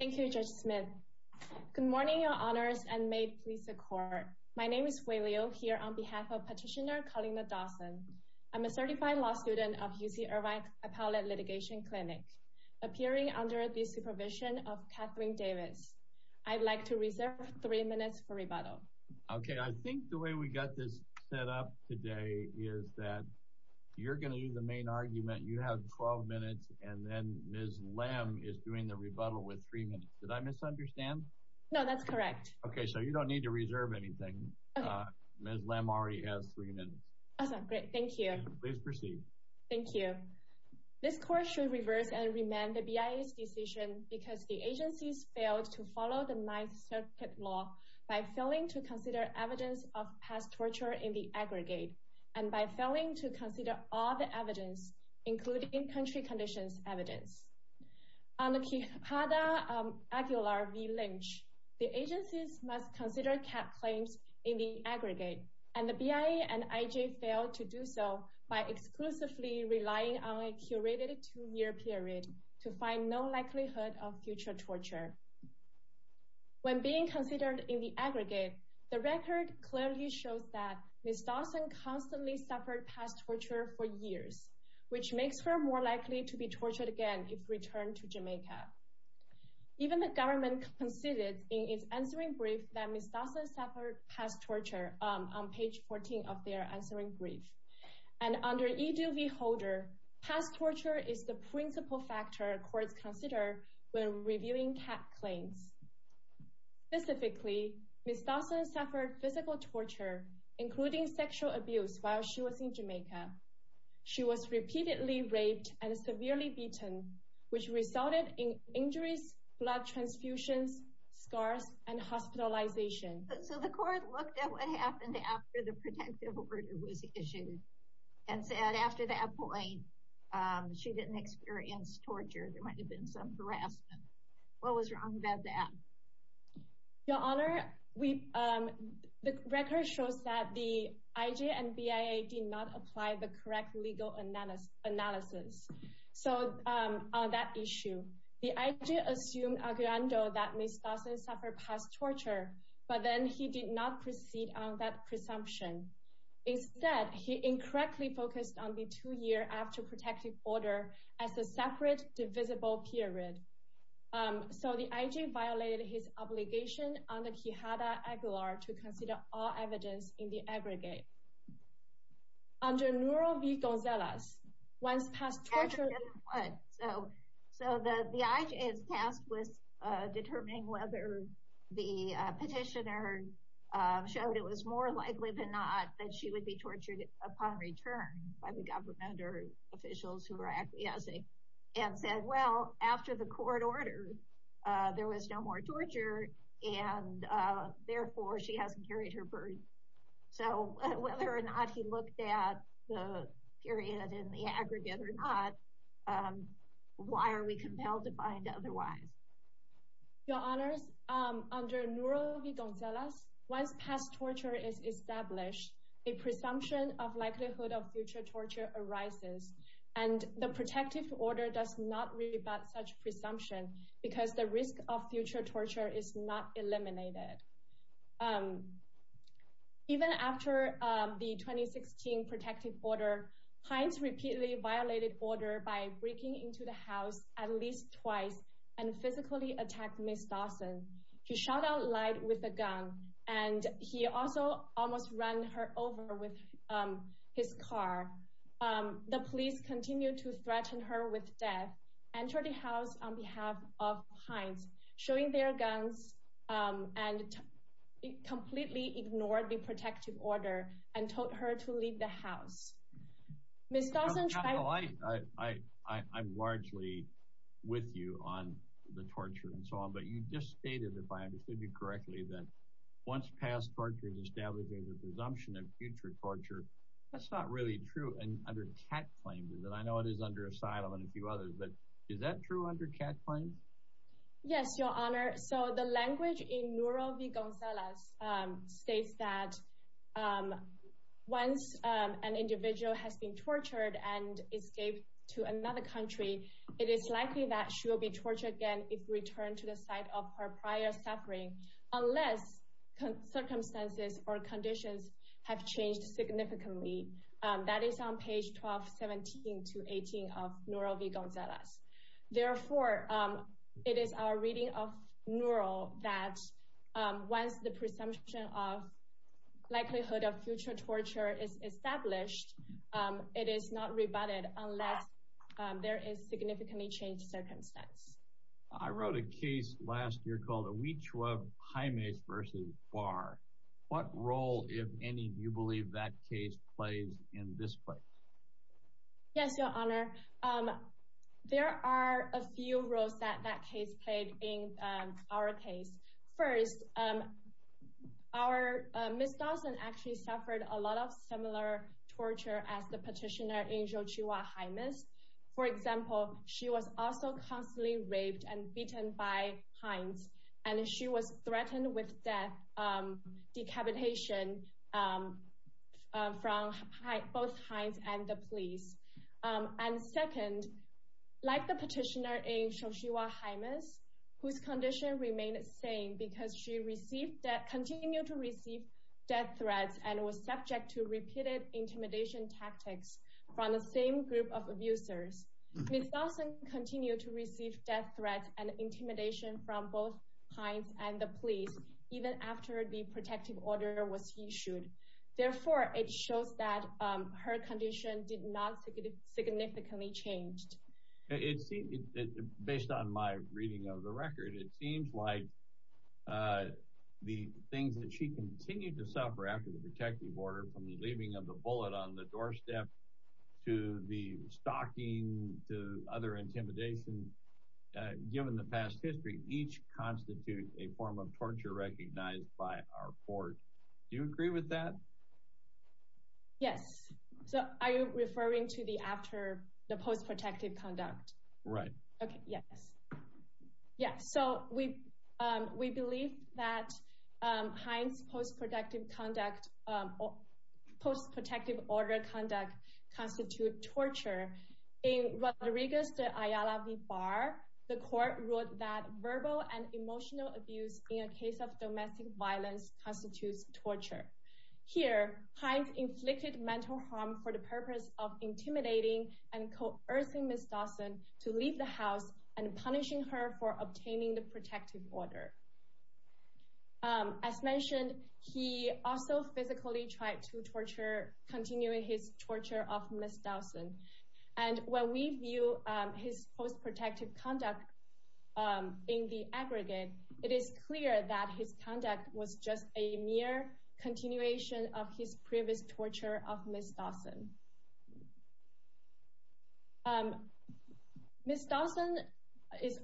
Thank you, Judge Smith. Good morning, Your Honors, and May it please the Court. My name is Wei Liu, here on behalf of Petitioner Carlena Dawson. I'm a certified law student of UC Irvine Appellate Litigation Clinic, appearing under the supervision of Katherine Davis. I'd like to reserve three minutes for rebuttal. Okay, I think the way we got this set up today is that you're going to do the main argument, you have 12 minutes, and then Ms. Lam is doing the rebuttal with three minutes. Did I misunderstand? No, that's correct. Okay, so you don't need to reserve anything. Ms. Lam already has three minutes. Awesome, great, thank you. Please proceed. Thank you. This Court should reverse and remand the BIA's decision because the agencies failed to follow the Ninth Circuit law by failing to consider evidence of past torture in the aggregate and by failing to consider all the evidence, including country conditions evidence. On the HADA Aguilar v. Lynch, the agencies must consider claims in the aggregate, and the BIA and IJ failed to do so by exclusively relying on a curated two-year period to find no likelihood of future torture. When being considered in the aggregate, the record clearly shows that Ms. Dawson constantly suffered past torture for years which makes her more likely to be tortured again if returned to Jamaica. Even the government considered in its answering brief that Ms. Dawson suffered past torture on page 14 of their answering brief. And under EDU v. Holder, past torture is the principal factor courts consider when reviewing claims. Specifically, Ms. Dawson suffered physical torture, including sexual abuse, while she was in Jamaica. She was repeatedly raped and severely beaten, which resulted in injuries, blood transfusions, scars, and hospitalization. So the court looked at what happened after the protective order was issued and said after that point she didn't experience torture. There might have been some harassment. What was wrong about that? Your Honor, the record shows that the IJ and BIA did not apply the correct legal analysis on that issue. The IJ assumed aggregando that Ms. Dawson suffered past torture, but then he did not proceed on that presumption. Instead, he incorrectly focused on the two years after protective order as a separate divisible period. So the IJ violated his obligation under Quijada Aguilar to consider all evidence in the aggregate. Under Neuro v. Gonzalez, once past torture... So the IJ's task was determining whether the petitioner showed it was more likely than not that she would be tortured upon return by the government or officials who were acquiescing and said, well, after the court ordered, there was no more torture, and therefore she hasn't carried her burden. So whether or not he looked at the period in the aggregate or not, why are we compelled to find otherwise? Your Honors, under Neuro v. Gonzalez, once past torture is established, a presumption of likelihood of future torture arises, and the protective order does not rebut such presumption because the risk of future torture is not eliminated. Even after the 2016 protective order, Hines repeatedly violated order by breaking into the house at least twice and physically attacked Ms. Dawson. She shot out light with a gun, and he also almost ran her over with his car. The police continued to threaten her with death, entered the house on behalf of Hines, showing their guns, and completely ignored the protective order and told her to leave the house. Ms. Dawson tried— I'm largely with you on the torture and so on, but you just stated, if I understood you correctly, that once past torture is established, there's a presumption of future torture. That's not really true. I know it is under asylum and a few others, but is that true under CAT claims? Yes, Your Honor. So the language in Neuro v. Gonzalez states that once an individual has been tortured and escaped to another country, it is likely that she will be tortured again if returned to the site of her prior suffering unless circumstances or conditions have changed significantly. That is on page 1217-18 of Neuro v. Gonzalez. Therefore, it is our reading of Neuro that once the presumption of likelihood of future torture is established, it is not rebutted unless there is significantly changed circumstance. I wrote a case last year called Ouitchouab Haimes v. Barr. What role, if any, do you believe that case plays in this case? Yes, Your Honor. There are a few roles that that case played in our case. First, Ms. Dawson actually suffered a lot of similar torture as the petitioner, Angel Chihua Haimes. For example, she was also constantly raped and beaten by Heinz, and she was threatened with death, decapitation from both Heinz and the police. And second, like the petitioner Angel Chihua Haimes, whose condition remained the same because she continued to receive death threats and was subject to repeated intimidation tactics from the same group of abusers, Ms. Dawson continued to receive death threats and intimidation from both Heinz and the police even after the protective order was issued. Therefore, it shows that her condition did not significantly change. Based on my reading of the record, it seems like the things that she continued to suffer after the protective order, from the leaving of the bullet on the doorstep to the stalking to other intimidation, given the past history, each constitute a form of torture recognized by our court. Do you agree with that? Yes. So are you referring to the post-protective conduct? Right. Okay, yes. So we believe that Haimes' post-protective order conduct constitute torture. In Rodriguez de Ayala v. Barr, the court ruled that verbal and emotional abuse in a case of domestic violence constitutes torture. Here, Haimes inflicted mental harm for the purpose of intimidating and coercing Ms. Dawson to leave the house and punishing her for obtaining the protective order. As mentioned, he also physically tried to torture, continuing his torture of Ms. Dawson. And when we view his post-protective conduct in the aggregate, it is clear that his conduct was just a mere continuation of his previous torture of Ms. Dawson. Ms. Dawson is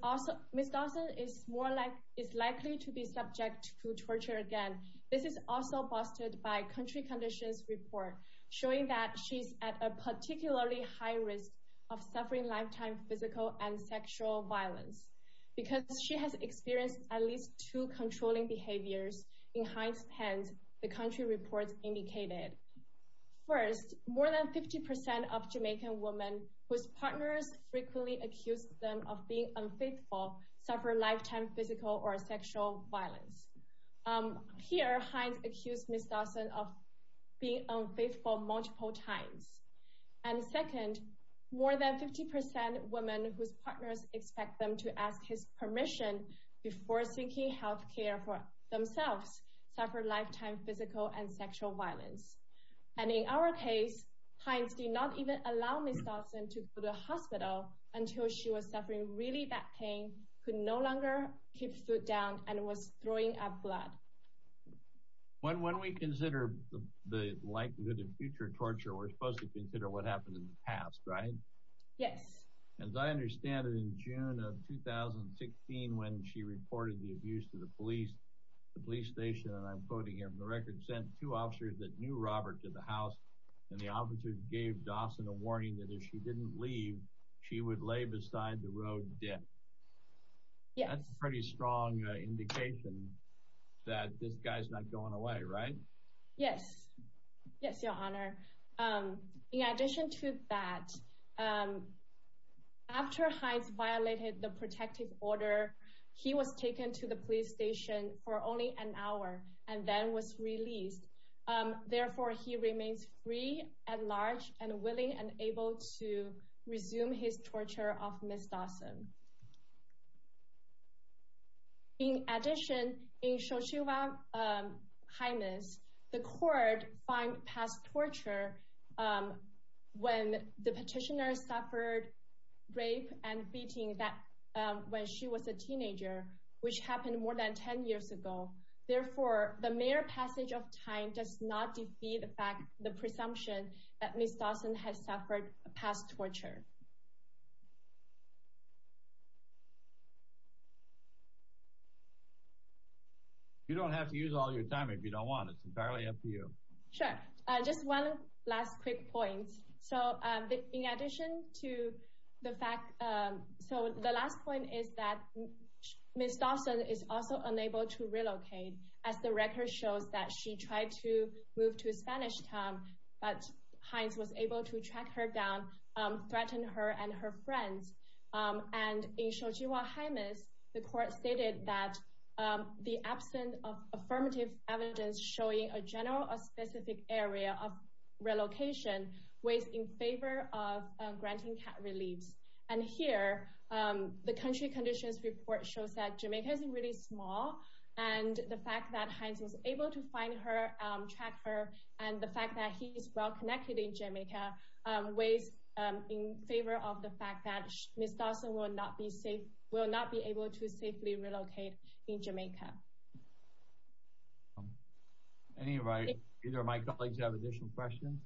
likely to be subject to torture again. This is also busted by country conditions report showing that she's at a particularly high risk of suffering lifetime physical and sexual violence because she has experienced at least two controlling behaviors in Haimes' hands, the country reports indicated. First, more than 50% of Jamaican women whose partners frequently accused them of being unfaithful suffer lifetime physical or sexual violence. Here, Haimes accused Ms. Dawson of being unfaithful multiple times. And second, more than 50% of women whose partners expect them to ask his permission before seeking health care for themselves suffer lifetime physical and sexual violence. And in our case, Haimes did not even allow Ms. Dawson to go to the hospital until she was suffering really that pain, could no longer keep foot down, and was throwing up blood. When we consider the likelihood of future torture, we're supposed to consider what happened in the past, right? Yes. As I understand it, in June of 2016, when she reported the abuse to the police, the police station, and I'm quoting here from the record, sent two officers that knew Robert to the house, and the officers gave Dawson a warning that if she didn't leave, she would lay beside the road dead. That's a pretty strong indication that this guy's not going away, right? Yes. Yes, Your Honor. In addition to that, after Haimes violated the protective order, he was taken to the police station for only an hour, and then was released. Therefore, he remains free, at large, and willing and able to resume his torture of Ms. Dawson. In addition, in Xochitl Haimes, the court finds past torture when the petitioner suffered rape and beating when she was a teenager, which happened more than 10 years ago. Therefore, the mere passage of time does not defeat the fact, the presumption, that Ms. Dawson has suffered past torture. Your Honor. You don't have to use all your time if you don't want to. It's entirely up to you. Sure. Just one last quick point. So, in addition to the fact— So, the last point is that Ms. Dawson is also unable to relocate, as the record shows that she tried to move to a Spanish town, but Hines was able to track her down, threaten her and her friends. And in Xochitl Haimes, the court stated that the absence of affirmative evidence showing a general or specific area of relocation weighs in favor of granting cat reliefs. And here, the country conditions report shows that Jamaica is really small, and the fact that Hines was able to find her, track her, and the fact that he is well-connected in Jamaica, weighs in favor of the fact that Ms. Dawson will not be able to safely relocate in Jamaica. Any of my colleagues have additional questions?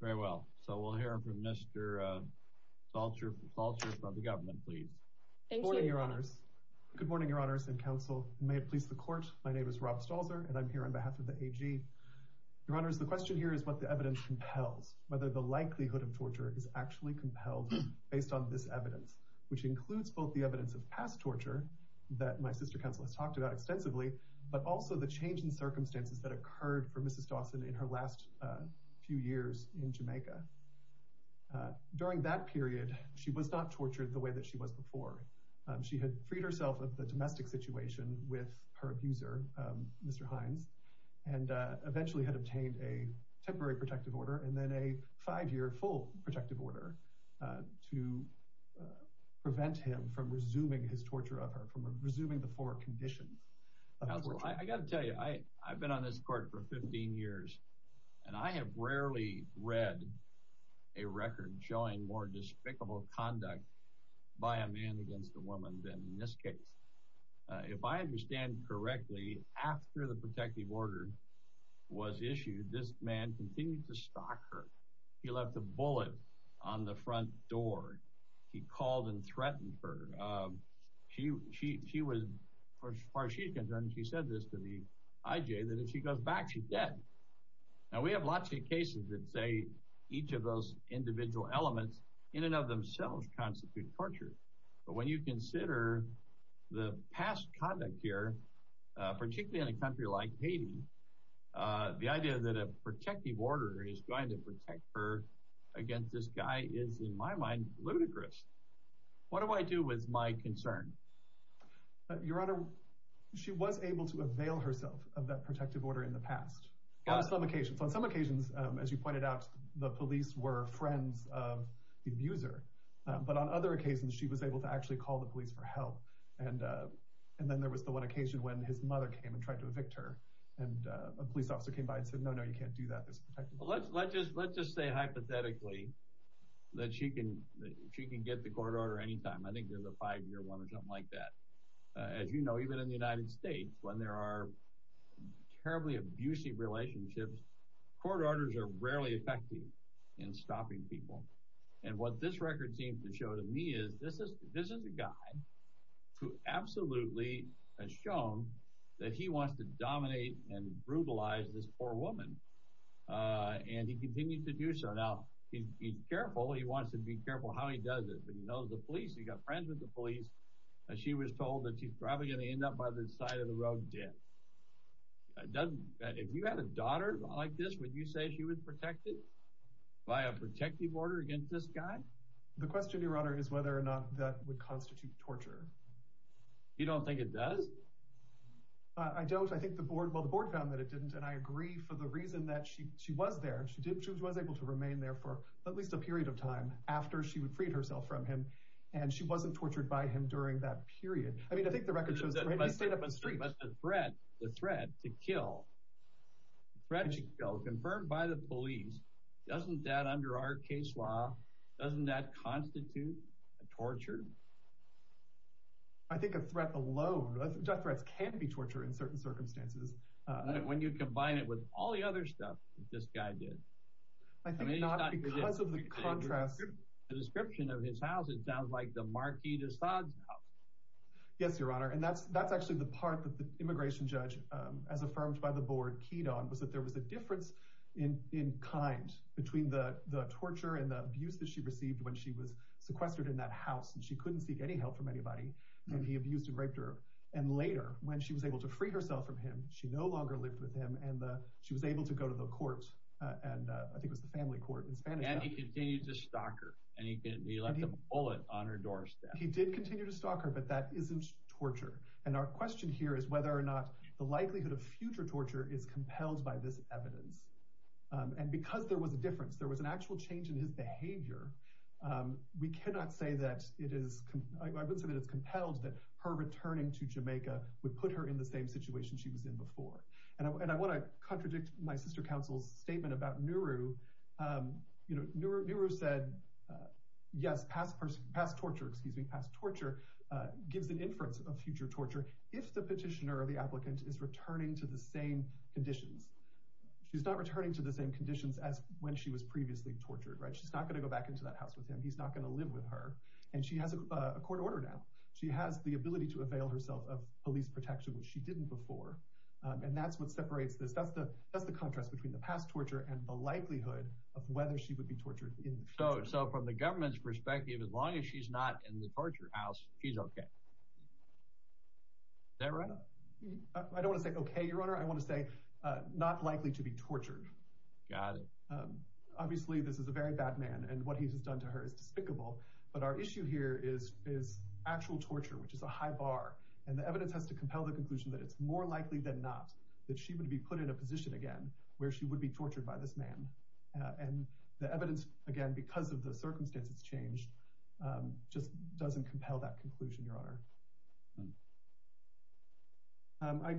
Very well. So, we'll hear from Mr. Salter from the government, please. Good morning, Your Honors. Good morning, Your Honors and Counsel. May it please the Court, my name is Rob Stalzer, and I'm here on behalf of the AG. Your Honors, the question here is what the evidence compels, whether the likelihood of torture is actually compelled based on this evidence, which includes both the evidence of past torture, that my sister counsel has talked about extensively, but also the change in circumstances that occurred for Mrs. Dawson in her last few years in Jamaica. During that period, she was not tortured the way that she was before. She had freed herself of the domestic situation with her abuser, Mr. Hines, and eventually had obtained a temporary protective order, and then a five-year full protective order to prevent him from resuming his torture of her, from resuming the four conditions. Counsel, I've got to tell you, I've been on this Court for 15 years, and I have rarely read a record showing more despicable conduct by a man against a woman than in this case. If I understand correctly, after the protective order was issued, this man continued to stalk her. He left a bullet on the front door. He called and threatened her. She was, as far as she's concerned, she said this to the IJ, that if she goes back, she's dead. Now, we have lots of cases that say each of those individual elements, in and of themselves, constitute torture. But when you consider the past conduct here, particularly in a country like Haiti, the idea that a protective order is going to protect her against this guy is, in my mind, ludicrous. What do I do with my concern? Your Honor, she was able to avail herself of that protective order in the past on some occasions. On some occasions, as you pointed out, the police were friends of the abuser. But on other occasions, she was able to actually call the police for help. And then there was the one occasion when his mother came and tried to evict her, and a police officer came by and said, no, no, you can't do that. Let's just say hypothetically that she can get the court order any time. I think there's a five-year one or something like that. As you know, even in the United States, when there are terribly abusive relationships, court orders are rarely effective in stopping people. And what this record seems to show to me is this is a guy who absolutely has shown that he wants to dominate and brutalize this poor woman. And he continues to do so. Now, he's careful. He wants to be careful how he does it. But he knows the police. He's got friends with the police. And she was told that she's probably going to end up by the side of the road dead. If you had a daughter like this, would you say she was protected by a protective order against this guy? The question, Your Honor, is whether or not that would constitute torture. You don't think it does? I don't. I think the board—well, the board found that it didn't. And I agree for the reason that she was there. She was able to remain there for at least a period of time after she had freed herself from him. And she wasn't tortured by him during that period. I mean, I think the record shows— But the threat, the threat to kill, the threat to kill confirmed by the police, doesn't that under our case law, doesn't that constitute a torture? I think a threat alone—threats can be torture in certain circumstances. When you combine it with all the other stuff that this guy did. I think not because of the contrast. The description of his house, it sounds like the Marquis de Sade's house. Yes, Your Honor. And that's actually the part that the immigration judge, as affirmed by the board, keyed on, was that there was a difference in kind between the torture and the abuse that she received when she was sequestered in that house. And she couldn't seek any help from anybody. And he abused and raped her. And later, when she was able to free herself from him, she no longer lived with him. And she was able to go to the court. And I think it was the family court in Spanish. And he continued to stalk her. And he left a bullet on her doorstep. He did continue to stalk her, but that isn't torture. And our question here is whether or not the likelihood of future torture is compelled by this evidence. And because there was a difference, there was an actual change in his behavior, we cannot say that it is— I wouldn't say that it's compelled that her returning to Jamaica would put her in the same situation she was in before. And I want to contradict my sister counsel's statement about Nuru. Nuru said, yes, past torture gives an inference of future torture if the petitioner or the applicant is returning to the same conditions. She's not returning to the same conditions as when she was previously tortured, right? She's not going to go back into that house with him. He's not going to live with her. And she has a court order now. She has the ability to avail herself of police protection, which she didn't before. And that's what separates this. That's the contrast between the past torture and the likelihood of whether she would be tortured in the future. So from the government's perspective, as long as she's not in the torture house, she's okay. Is that right? I don't want to say okay, Your Honor. I want to say not likely to be tortured. Got it. Obviously, this is a very bad man, and what he has done to her is despicable. But our issue here is actual torture, which is a high bar. And the evidence has to compel the conclusion that it's more likely than not that she would be put in a position again where she would be tortured by this man. And the evidence, again, because of the circumstances changed, just doesn't compel that conclusion, Your Honor. I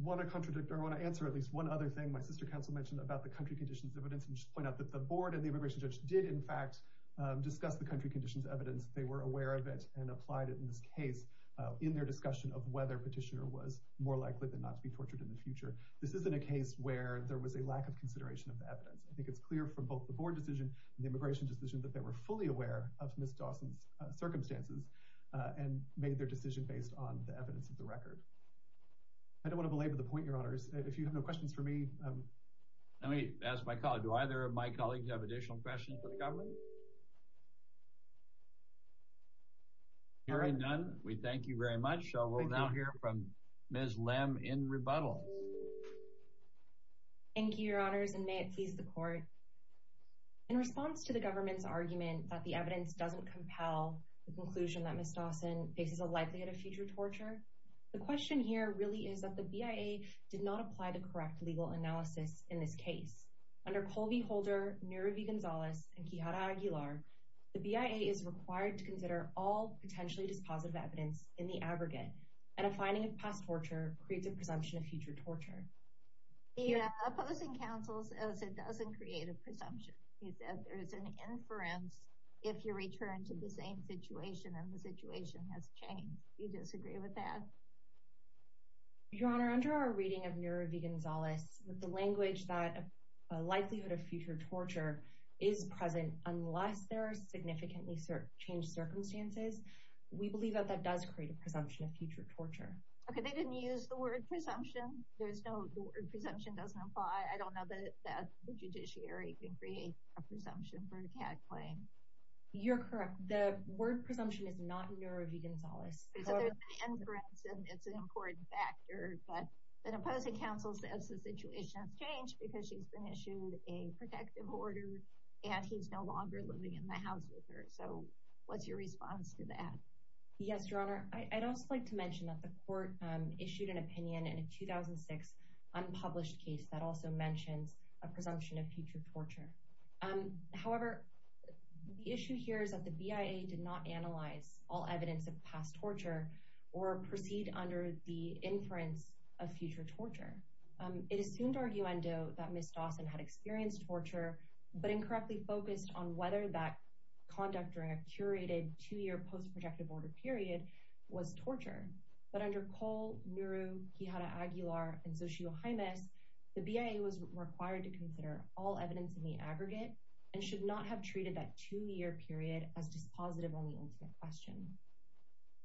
want to contradict or want to answer at least one other thing. My sister counsel mentioned about the country conditions evidence, and she pointed out that the board and the immigration judge did, in fact, discuss the country conditions evidence. They were aware of it and applied it in this case in their discussion of whether Petitioner was more likely than not to be tortured in the future. This isn't a case where there was a lack of consideration of the evidence. I think it's clear from both the board decision and the immigration decision that they were fully aware of Ms. Dawson's circumstances and made their decision based on the evidence of the record. I don't want to belabor the point, Your Honors. If you have no questions for me, let me ask my colleague. Do either of my colleagues have additional questions for the government? Hearing none, we thank you very much. We'll now hear from Ms. Lim in rebuttal. Thank you, Your Honors, and may it please the Court. In response to the government's argument that the evidence doesn't compel the conclusion that Ms. Dawson faces a likelihood of future torture, the question here really is that the BIA did not apply the correct legal analysis in this case. Under Colby Holder, Neruvi Gonzalez, and Quijada Aguilar, the BIA is required to consider all potentially dispositive evidence in the aggregate, and a finding of past torture creates a presumption of future torture. Yeah, opposing counsels, as it doesn't create a presumption. He said there is an inference if you return to the same situation and the situation has changed. Do you disagree with that? Your Honor, under our reading of Neruvi Gonzalez, the language that a likelihood of future torture is present unless there are significantly changed circumstances, we believe that that does create a presumption of future torture. Okay, they didn't use the word presumption. The word presumption doesn't apply. I don't know that the judiciary can create a presumption for a CAD claim. You're correct. The word presumption is not Neruvi Gonzalez. He said there's an inference, and it's an important factor. But the opposing counsel says the situation has changed because she's been issued a protective order, and he's no longer living in the house with her. So what's your response to that? Yes, Your Honor. I'd also like to mention that the court issued an opinion in a 2006 unpublished case that also mentions a presumption of future torture. However, the issue here is that the BIA did not analyze all evidence of past torture or proceed under the inference of future torture. It assumed arguendo that Ms. Dawson had experienced torture, but incorrectly focused on whether that conduct during a curated two-year post-projective order period was torture. But under Cole, Neru, Quijada Aguilar, and Xochitl Jimenez, the BIA was required to consider all evidence in the aggregate and should not have treated that two-year period as dispositive on the ultimate question.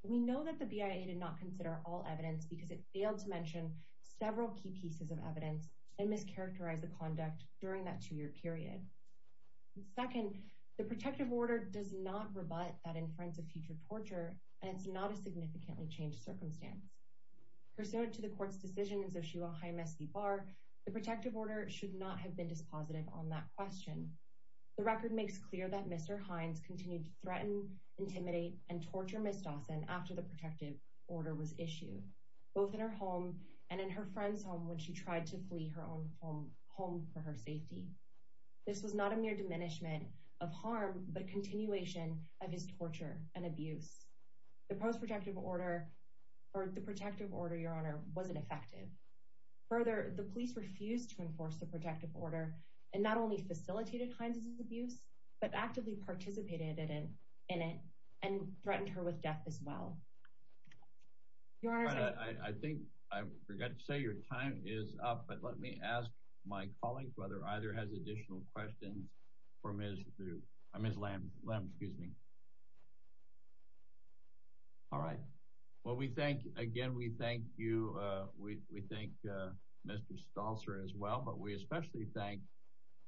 We know that the BIA did not consider all evidence because it failed to mention several key pieces of evidence and mischaracterized the conduct during that two-year period. Second, the protective order does not rebut that inference of future torture, and it's not a significantly changed circumstance. Pursuant to the court's decision in Xochitl Jimenez v. Barr, the protective order should not have been dispositive on that question. The record makes clear that Mr. Hines continued to threaten, intimidate, and torture Ms. Dawson after the protective order was issued, both in her home and in her friend's home when she tried to flee her own home for her safety. This was not a mere diminishment of harm, but a continuation of his torture and abuse. The protective order, Your Honor, wasn't effective. Further, the police refused to enforce the protective order and not only facilitated Hines' abuse, but actively participated in it and threatened her with death as well. Your Honor, I think I forgot to say your time is up, but let me ask my colleague whether either has additional questions for Ms. Lamb. Ms. Lamb, excuse me. All right. Well, again, we thank you. We thank Mr. Stolzer as well, but we especially thank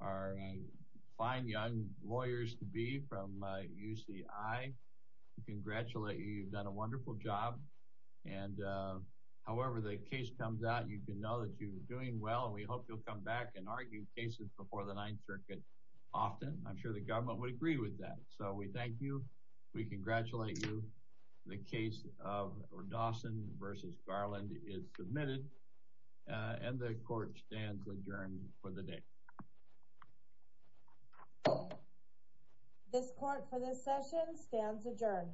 our fine young lawyers-to-be from UCI. We congratulate you. You've done a wonderful job. And however the case comes out, you can know that you're doing well, and we hope you'll come back and argue cases before the Ninth Circuit often. I'm sure the government would agree with that. So we thank you. We congratulate you. The case of Dawson v. Garland is submitted, and the court stands adjourned for the day. This court for this session stands adjourned.